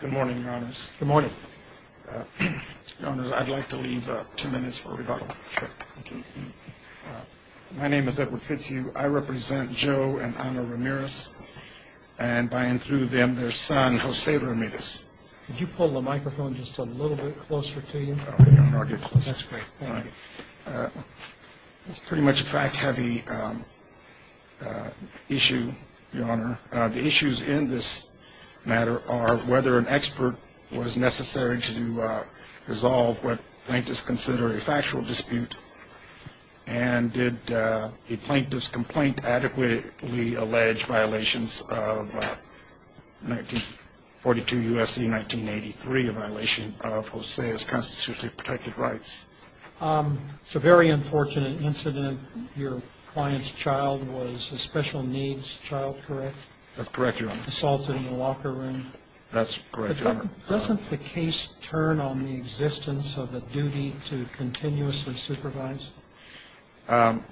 Good morning, Your Honors. I'd like to leave two minutes for rebuttal. My name is Edward Fitzhugh. I represent Joe and Ana Ramirez, and by and through them, their son, Jose Ramirez. Could you pull the microphone just a little bit closer to you? That's pretty much a fact-heavy issue, Your Honor. The issues in this matter are whether an expert was necessary to resolve what plaintiffs consider a factual dispute, and did the plaintiffs' complaint adequately allege violations of 1942 U.S. Constitution? I see 1983, a violation of Jose's constitutionally protected rights. It's a very unfortunate incident. Your client's child was a special needs child, correct? That's correct, Your Honor. Assaulted in the locker room? That's correct, Your Honor. Doesn't the case turn on the existence of a duty to continuously supervise? Your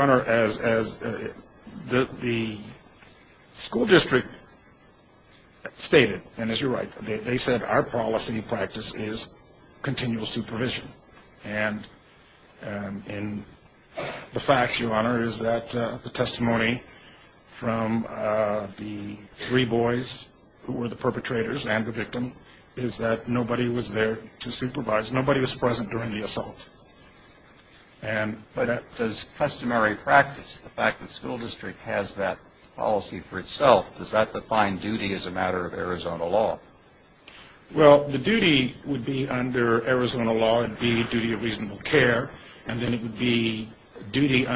Honor, as the school district stated, and as you're right, they said our policy practice is continual supervision, and the facts, Your Honor, is that the testimony from the three boys who were the perpetrators and the victim is that nobody was there to supervise. Nobody was present during the assault. But does customary practice, the fact that the school district has that policy for itself, does that define duty as a matter of Arizona law? Well, the duty would be under Arizona law, it would be duty of reasonable care, and then it would be duty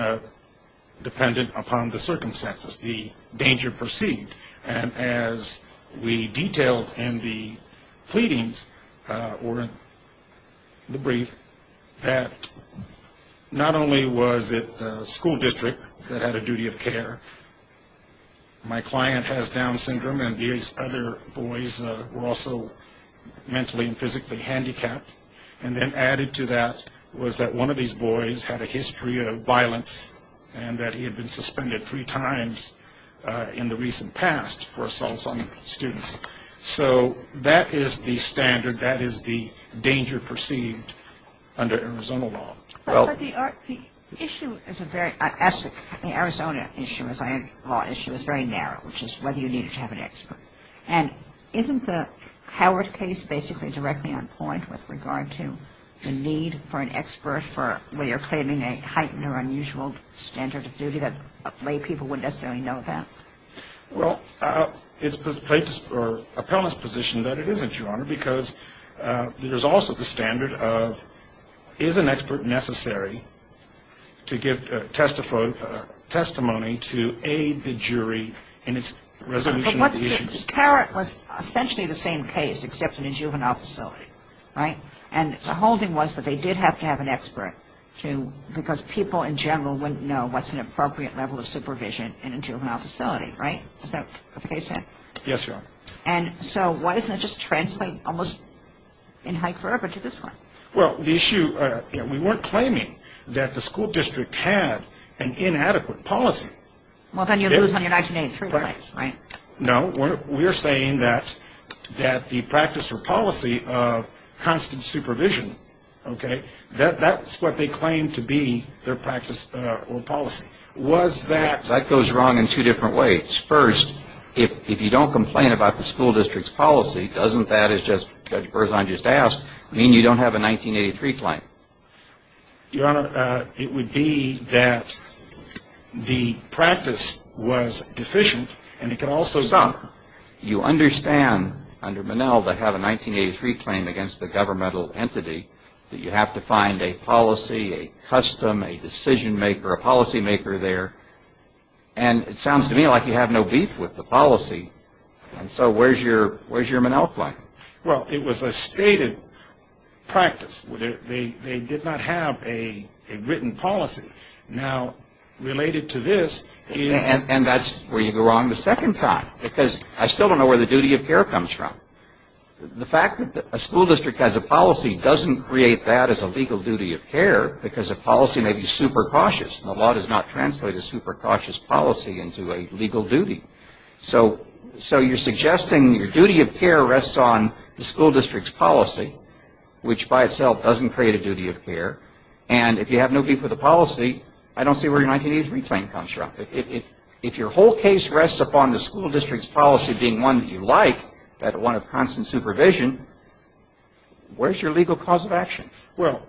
dependent upon the circumstances, the danger perceived. And as we detailed in the pleadings, or in the brief, that not only was it the school district that had a duty of care, my client has Down syndrome and these other boys were also mentally and physically handicapped, and then added to that was that one of these boys had a history of violence and that he had been suspended three times in the recent past for assault on students. So that is the standard, that is the danger perceived under Arizona law. But the issue is a very – the Arizona law issue is very narrow, which is whether you need to have an expert. And isn't the Howard case basically directly on point with regard to the need for an expert for, where you're claiming a heightened or unusual standard of duty that lay people wouldn't necessarily know about? Well, it's a plaintiff's or appellant's position that it isn't, Your Honor, because there's also the standard of, is an expert necessary to give testimony to aid the jury in its resolution of the issues? But what the – Carrot was essentially the same case, except in a juvenile facility, right? And the whole thing was that they did have to have an expert to – because people in general wouldn't know what's an appropriate level of supervision in a juvenile facility, right? Is that what the case said? Yes, Your Honor. And so why doesn't it just translate almost in hyperbole to this one? Well, the issue – we weren't claiming that the school district had an inadequate policy. Well, then you lose on your 1983 rights, right? No. We're saying that the practice or policy of constant supervision, okay, that's what they claimed to be their practice or policy. Was that – That goes wrong in two different ways. First, if you don't complain about the school district's policy, doesn't that, as Judge Berzon just asked, mean you don't have a 1983 claim? Your Honor, it would be that the practice was deficient, and it could also – Stop. You understand, under Minnell, to have a 1983 claim against a governmental entity, that you have to find a policy, a custom, a decision-maker, a policymaker there. And it sounds to me like you have no beef with the policy. And so where's your – where's your Minnell claim? Well, it was a stated practice. They did not have a written policy. Now, related to this is – And that's where you go wrong the second time, because I still don't know where the duty of care comes from. The fact that a school district has a policy doesn't create that as a legal duty of care, because a policy may be super cautious, and the law does not translate a super cautious policy into a legal duty. So you're suggesting your duty of care rests on the school district's policy, which by itself doesn't create a duty of care. And if you have no beef with the policy, I don't see where your 1983 claim comes from. If your whole case rests upon the school district's policy being one that you like, that one of constant supervision, where's your legal cause of action? Well,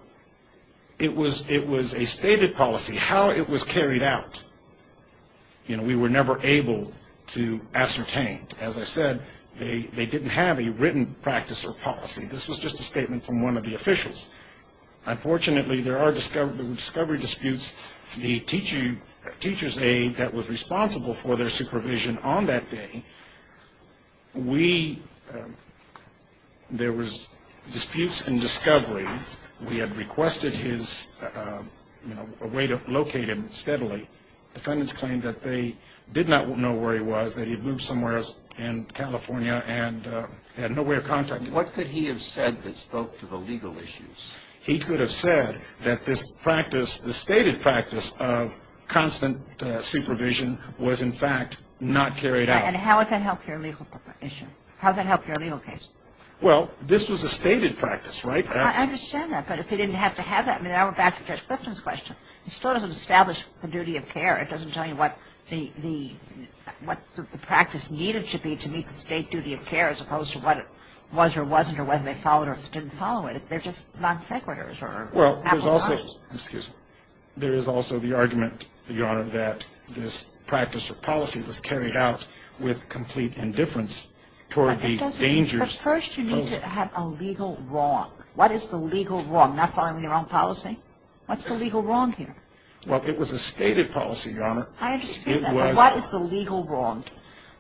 it was a stated policy. How it was carried out – you know, we were never able to ascertain. As I said, they didn't have a written practice or policy. This was just a statement from one of the officials. Unfortunately, there were discovery disputes. The teacher's aide that was responsible for their supervision on that day, we – there was disputes and discovery. We had requested his – you know, a way to locate him steadily. Defendants claimed that they did not know where he was, that he had moved somewhere in California, and they had no way of contacting him. What could he have said that spoke to the legal issues? He could have said that this practice, the stated practice of constant supervision, was in fact not carried out. And how would that help your legal issue? How would that help your legal case? Well, this was a stated practice, right? I understand that. But if they didn't have to have that – I mean, I went back to Judge Clifton's question. It still doesn't establish the duty of care. It doesn't tell you what the – what the practice needed to be to meet the state duty of care, as opposed to what it was or wasn't or whether they followed or didn't follow it. They're just non-sequiturs. Well, there's also – excuse me. There is also the argument, Your Honor, that this practice or policy was carried out with complete indifference toward the dangers – But first you need to have a legal wrong. What is the legal wrong? Not following your own policy? What's the legal wrong here? Well, it was a stated policy, Your Honor. I understand that. But what is the legal wrong?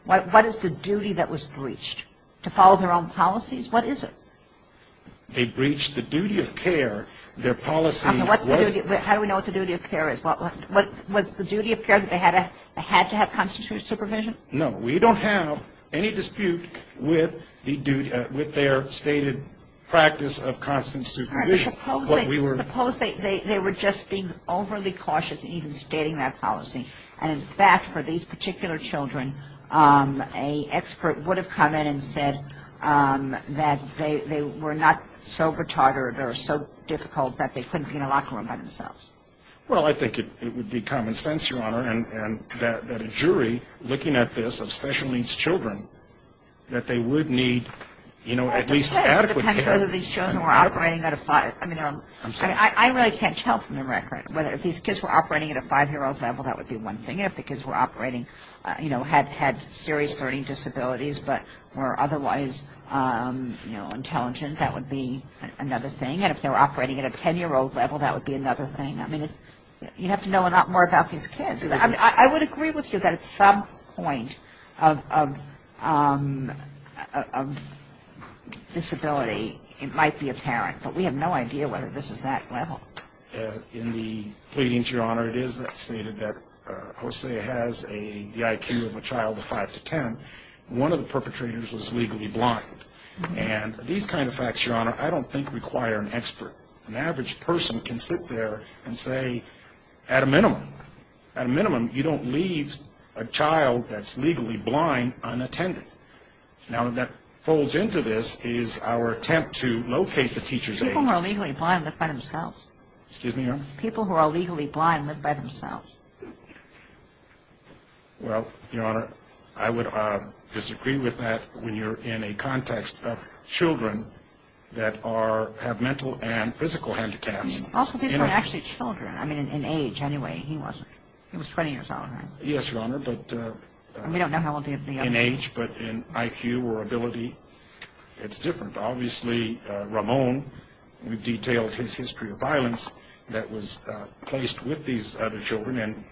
What is the duty that was breached? To follow their own policies? What is it? They breached the duty of care. Their policy was – How do we know what the duty of care is? Was the duty of care that they had to have constant supervision? No. We don't have any dispute with the duty – with their stated practice of constant supervision. Your Honor, suppose they were just being overly cautious in even stating that policy. And, in fact, for these particular children, an expert would have come in and said that they were not so retarded or so difficult that they couldn't be in a locker room by themselves. Well, I think it would be common sense, Your Honor, and that a jury looking at this of special needs children, that they would need, you know, at least adequate care. I don't know whether these children were operating at a – I mean, I really can't tell from the record whether – if these kids were operating at a five-year-old level, that would be one thing. And if the kids were operating, you know, had serious learning disabilities but were otherwise, you know, intelligent, that would be another thing. And if they were operating at a 10-year-old level, that would be another thing. I mean, you have to know a lot more about these kids. I would agree with you that at some point of disability, it might be apparent. But we have no idea whether this is that level. In the pleadings, Your Honor, it is stated that Jose has the IQ of a child of 5 to 10. One of the perpetrators was legally blind. And these kind of facts, Your Honor, I don't think require an expert. An average person can sit there and say, at a minimum, at a minimum you don't leave a child that's legally blind unattended. Now, that folds into this is our attempt to locate the teacher's age. People who are legally blind live by themselves. Excuse me, Your Honor? People who are legally blind live by themselves. Well, Your Honor, I would disagree with that when you're in a context of children that have mental and physical handicaps. Also, these are actually children. I mean, in age, anyway, he wasn't. He was 20 years old, right? Yes, Your Honor, but in age, but in IQ or ability, it's different. Obviously, Ramon, we've detailed his history of violence that was placed with these other children. And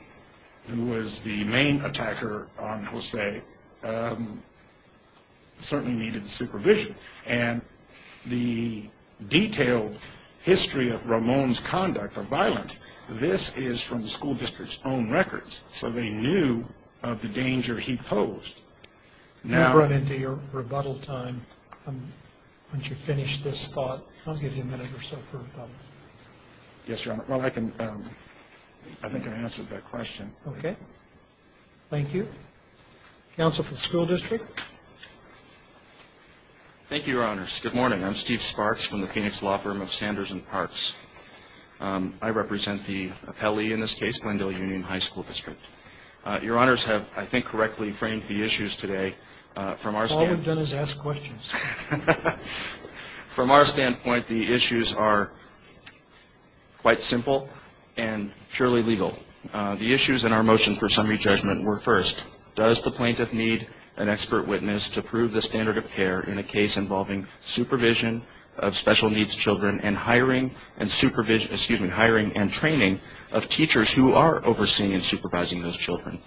who was the main attacker on Jose certainly needed supervision. And the detailed history of Ramon's conduct or violence, this is from the school district's own records. So they knew of the danger he posed. We've run into your rebuttal time. Why don't you finish this thought? I'll give you a minute or so for rebuttal. Yes, Your Honor. Well, I think I answered that question. Okay. Thank you. Counsel for the school district. Thank you, Your Honors. Good morning. I'm Steve Sparks from the Phoenix Law Firm of Sanders and Parks. I represent the appellee in this case, Glendale Union High School District. Your Honors have, I think, correctly framed the issues today. All we've done is ask questions. From our standpoint, the issues are quite simple and purely legal. The issues in our motion for summary judgment were, first, does the plaintiff need an expert witness to prove the standard of care in a case involving supervision of special needs children and hiring and training of teachers who are overseeing and supervising those children?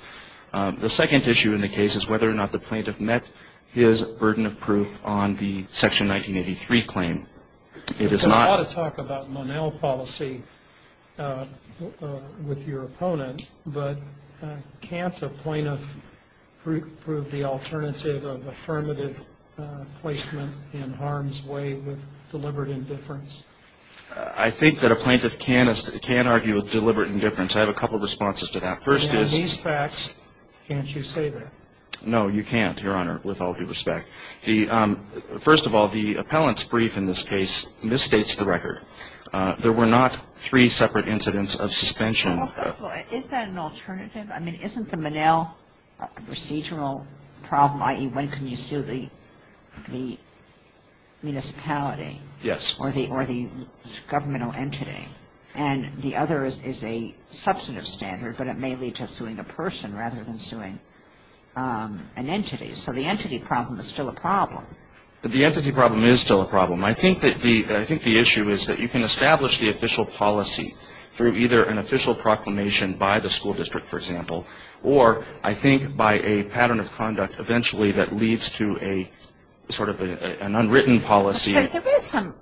The second issue in the case is whether or not the plaintiff met his burden of proof on the Section 1983 claim. There's a lot of talk about Monell policy with your opponent, but can't a plaintiff prove the alternative of affirmative placement in harm's way with deliberate indifference? I think that a plaintiff can argue with deliberate indifference. I have a couple of responses to that. First is these facts, can't you say that? No, you can't, Your Honor, with all due respect. First of all, the appellant's brief in this case misstates the record. There were not three separate incidents of suspension. Well, first of all, is that an alternative? I mean, isn't the Monell procedural problem, i.e., when can you sue the municipality? Yes. Or the governmental entity? And the other is a substantive standard, but it may lead to suing a person rather than suing an entity. So the entity problem is still a problem. The entity problem is still a problem. I think the issue is that you can establish the official policy through either an official proclamation by the school district, for example, or I think by a pattern of conduct eventually that leads to a sort of an unwritten policy. But there is some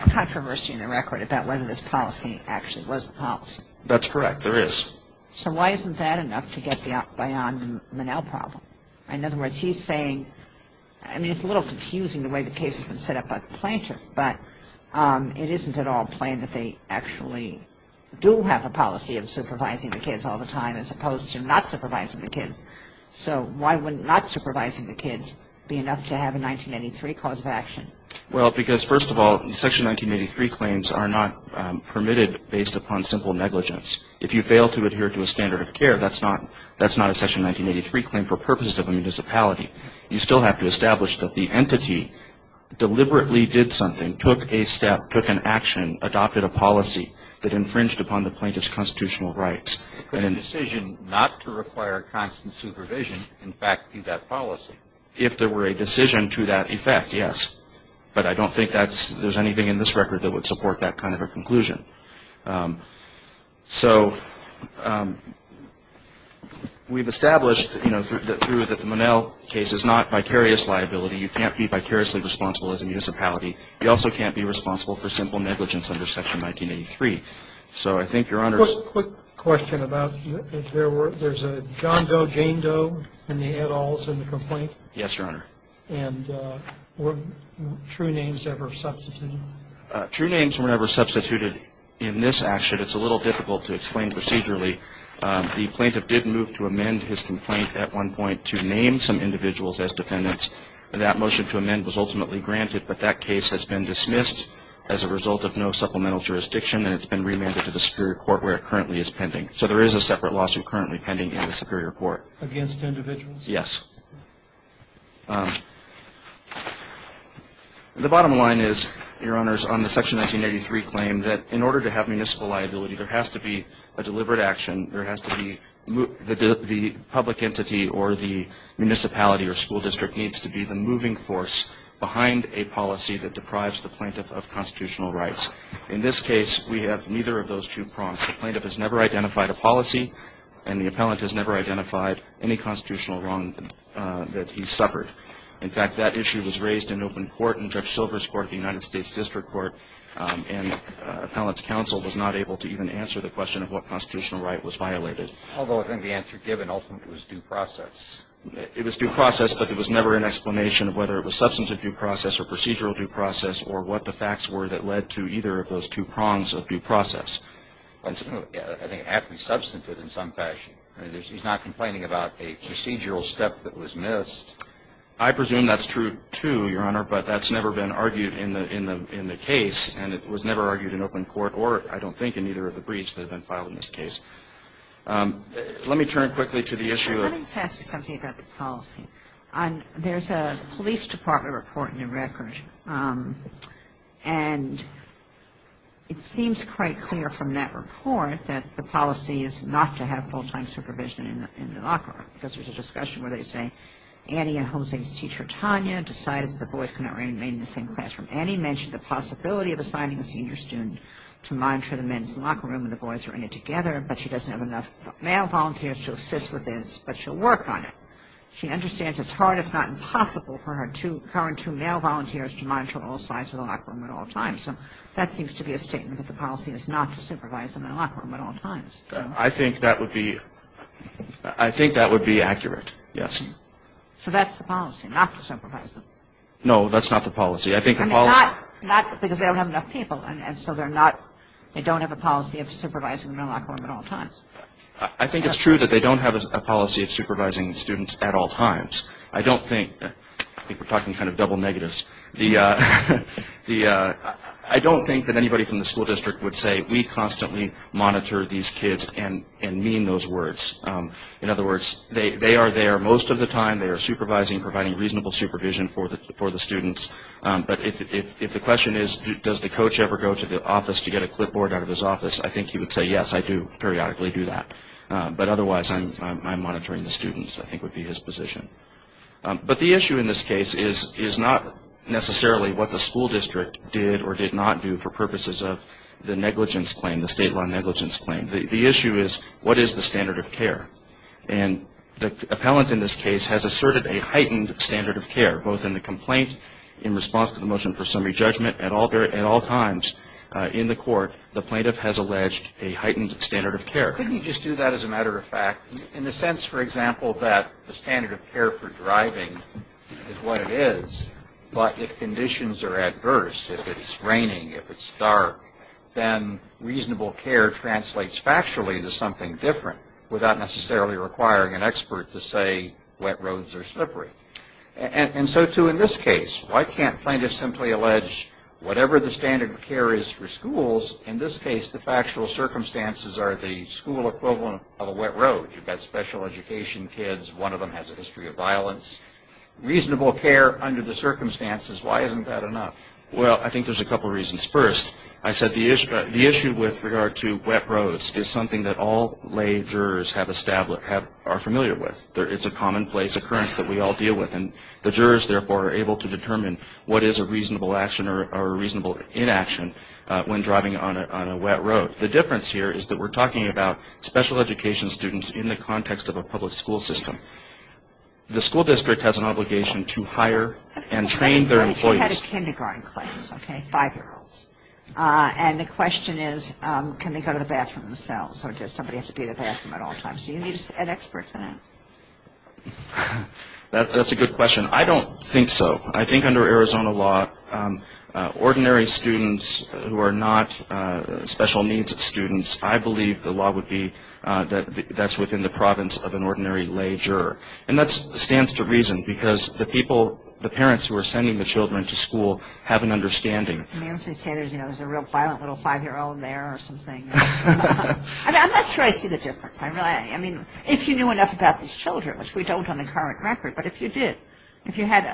controversy in the record about whether this policy actually was the policy. That's correct. There is. So why isn't that enough to get beyond the Monell problem? In other words, he's saying, I mean, it's a little confusing the way the case has been set up by the plaintiff, but it isn't at all plain that they actually do have a policy of supervising the kids all the time as opposed to not supervising the kids. So why wouldn't not supervising the kids be enough to have a 1983 cause of action? Well, because, first of all, Section 1983 claims are not permitted based upon simple negligence. If you fail to adhere to a standard of care, that's not a Section 1983 claim for purposes of a municipality. You still have to establish that the entity deliberately did something, took a step, took an action, adopted a policy that infringed upon the plaintiff's constitutional rights. Could a decision not to require constant supervision, in fact, be that policy? If there were a decision to that effect, yes. But I don't think there's anything in this record that would support that kind of a conclusion. So we've established, you know, through the Monell case, it's not vicarious liability. You can't be vicariously responsible as a municipality. You also can't be responsible for simple negligence under Section 1983. So I think Your Honor's ---- Quick question about there's a John Doe, Jane Doe in the add-alls in the complaint. Yes, Your Honor. And were true names ever substituted? True names were never substituted in this action. It's a little difficult to explain procedurally. The plaintiff did move to amend his complaint at one point to name some individuals as defendants. And that motion to amend was ultimately granted. But that case has been dismissed as a result of no supplemental jurisdiction, and it's been remanded to the superior court where it currently is pending. So there is a separate lawsuit currently pending in the superior court. Against individuals? Yes. The bottom line is, Your Honors, on the Section 1983 claim, that in order to have municipal liability, there has to be a deliberate action. There has to be the public entity or the municipality or school district needs to be the moving force behind a policy that deprives the plaintiff of constitutional rights. In this case, we have neither of those two prongs. The plaintiff has never identified a policy, and the appellant has never identified any constitutional wrong that he suffered. In fact, that issue was raised in open court in Judge Silver's court, the United States District Court, and the appellant's counsel was not able to even answer the question of what constitutional right was violated. Although I think the answer given ultimately was due process. It was due process, but there was never an explanation of whether it was substantive due process or procedural due process or what the facts were that led to either of those two prongs of due process. And so I think it had to be substantive in some fashion. I mean, he's not complaining about a procedural step that was missed. I presume that's true, too, Your Honor, but that's never been argued in the case, and it was never argued in open court or, I don't think, in either of the briefs that have been filed in this case. Let me turn quickly to the issue of Let me just ask you something about the policy. There's a police department report in your record, and it seems quite clear from that report that the policy is not to have full-time supervision in the locker room because there's a discussion where they say, Annie and Homestead's teacher, Tanya, decided that the boys could not remain in the same classroom. Annie mentioned the possibility of assigning a senior student to monitor the men's locker room when the boys are in it together, but she doesn't have enough male volunteers to assist with this, but she'll work on it. She understands it's hard, if not impossible, for her current two male volunteers to monitor all sides of the locker room at all times. So that seems to be a statement that the policy is not to supervise them in the locker room at all times. I think that would be accurate, yes. So that's the policy, not to supervise them. No, that's not the policy. I think the policy Not because they don't have enough people, and so they don't have a policy of supervising them in the locker room at all times. I think it's true that they don't have a policy of supervising students at all times. I don't think I think we're talking kind of double negatives. I don't think that anybody from the school district would say, we constantly monitor these kids and mean those words. In other words, they are there most of the time. They are supervising, providing reasonable supervision for the students. But if the question is, does the coach ever go to the office to get a clipboard out of his office, I think he would say, yes, I do periodically do that. But otherwise, I'm monitoring the students, I think would be his position. But the issue in this case is not necessarily what the school district did or did not do for purposes of the negligence claim, the state law negligence claim. The issue is, what is the standard of care? And the appellant in this case has asserted a heightened standard of care, both in the complaint in response to the motion for summary judgment, and at all times in the court, the plaintiff has alleged a heightened standard of care. Couldn't you just do that as a matter of fact? In the sense, for example, that the standard of care for driving is what it is, but if conditions are adverse, if it's raining, if it's dark, then reasonable care translates factually to something different, without necessarily requiring an expert to say wet roads are slippery. And so, too, in this case, why can't plaintiffs simply allege whatever the standard of care is for schools? In this case, the factual circumstances are the school equivalent of a wet road. You've got special education kids. One of them has a history of violence. Reasonable care under the circumstances, why isn't that enough? Well, I think there's a couple reasons. First, I said the issue with regard to wet roads is something that all lay jurors are familiar with. It's a commonplace occurrence that we all deal with, and the jurors, therefore, are able to determine what is a reasonable action or a reasonable inaction when driving on a wet road. The difference here is that we're talking about special education students in the context of a public school system. The school district has an obligation to hire and train their employees. You had a kindergarten class, okay, five-year-olds. And the question is, can they go to the bathroom themselves, or does somebody have to be in the bathroom at all times? You need an expert for that. That's a good question. I don't think so. I think under Arizona law, ordinary students who are not special needs students, I believe the law would be that that's within the province of an ordinary lay juror. And that stands to reason, because the people, the parents who are sending the children to school have an understanding. And they obviously say there's a real violent little five-year-old there or something. I'm not sure I see the difference. I mean, if you knew enough about these children, which we don't on the current record, but if you did, if you had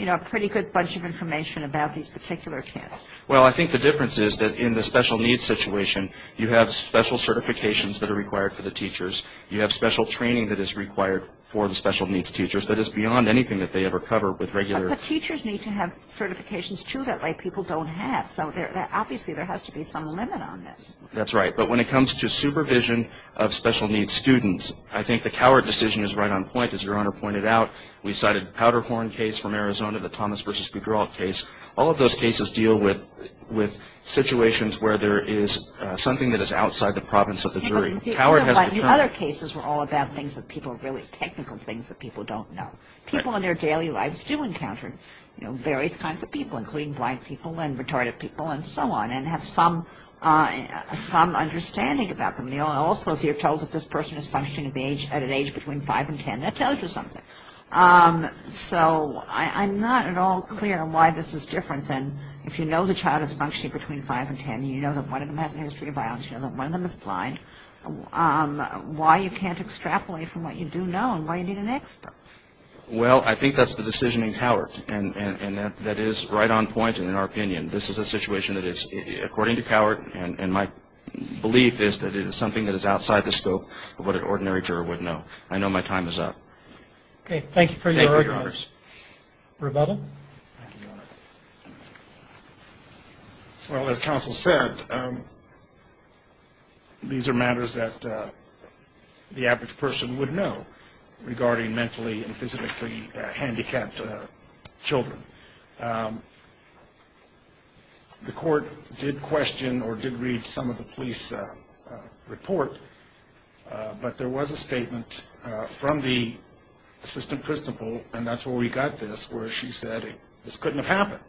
a pretty good bunch of information about these particular kids. Well, I think the difference is that in the special needs situation, you have special certifications that are required for the teachers. You have special training that is required for the special needs teachers. That is beyond anything that they ever cover with regular. But the teachers need to have certifications, too, that lay people don't have. So obviously there has to be some limit on this. That's right. But when it comes to supervision of special needs students, I think the Coward decision is right on point, as Your Honor pointed out. We cited the Powderhorn case from Arizona, the Thomas v. Boudreaux case. All of those cases deal with situations where there is something that is outside the province of the jury. But the other cases were all about things that people, really technical things that people don't know. People in their daily lives do encounter various kinds of people, including blind people and retarded people and so on, and have some understanding about them. And also if you're told that this person is functioning at an age between 5 and 10, that tells you something. So I'm not at all clear on why this is different than if you know the child is functioning between 5 and 10 and you know that one of them has a history of violence, you know that one of them is blind, why you can't extrapolate from what you do know and why you need an expert. Well, I think that's the decision in Coward, and that is right on point in our opinion. This is a situation that is, according to Coward, and my belief is that it is something that is outside the scope of what an ordinary juror would know. I know my time is up. Okay. Thank you for your argument. Thank you, Your Honors. Roberta? Thank you, Your Honor. Well, as counsel said, these are matters that the average person would know regarding mentally and physically handicapped children. The court did question or did read some of the police report, but there was a statement from the assistant principal, and that's where we got this, where she said, this couldn't have happened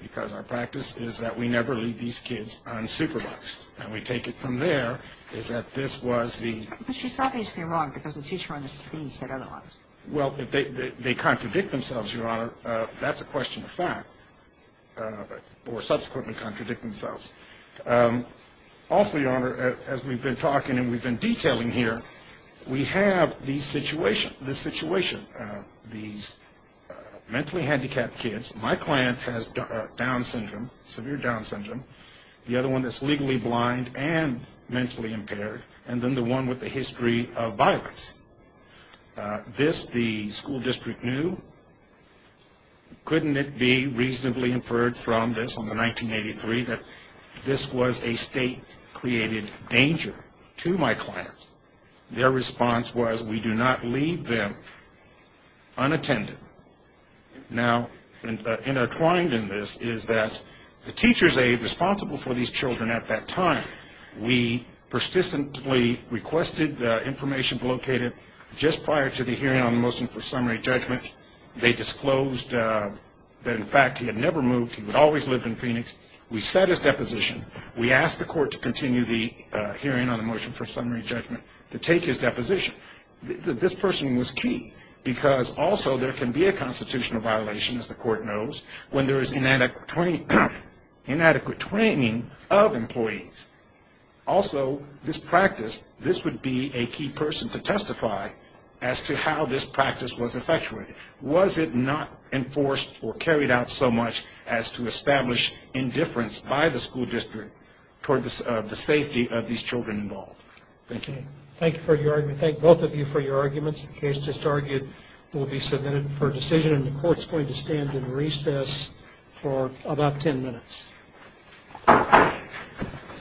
because our practice is that we never leave these kids unsupervised. And we take it from there is that this was the ---- But she's obviously wrong because the teacher on the scene said otherwise. Well, they contradict themselves, Your Honor. That's a question of fact, or subsequently contradict themselves. Also, Your Honor, as we've been talking and we've been detailing here, we have this situation, these mentally handicapped kids. My client has Down syndrome, severe Down syndrome, the other one that's legally blind and mentally impaired, and then the one with the history of violence. This the school district knew. Couldn't it be reasonably inferred from this on the 1983 that this was a state-created danger to my client? Their response was, we do not leave them unattended. Now, intertwined in this is that the teacher's aide responsible for these children at that time, we persistently requested the information located just prior to the hearing on the motion for summary judgment. They disclosed that, in fact, he had never moved. He would always live in Phoenix. We set his deposition. We asked the court to continue the hearing on the motion for summary judgment to take his deposition. This person was key because also there can be a constitutional violation, as the court knows, when there is inadequate training of employees. Also, this practice, this would be a key person to testify as to how this practice was effectuated. Was it not enforced or carried out so much as to establish indifference by the school district toward the safety of these children involved? Thank you. Thank you for your argument. Thank both of you for your arguments. The case just argued will be submitted for decision, and the court is going to stand in recess for about 10 minutes.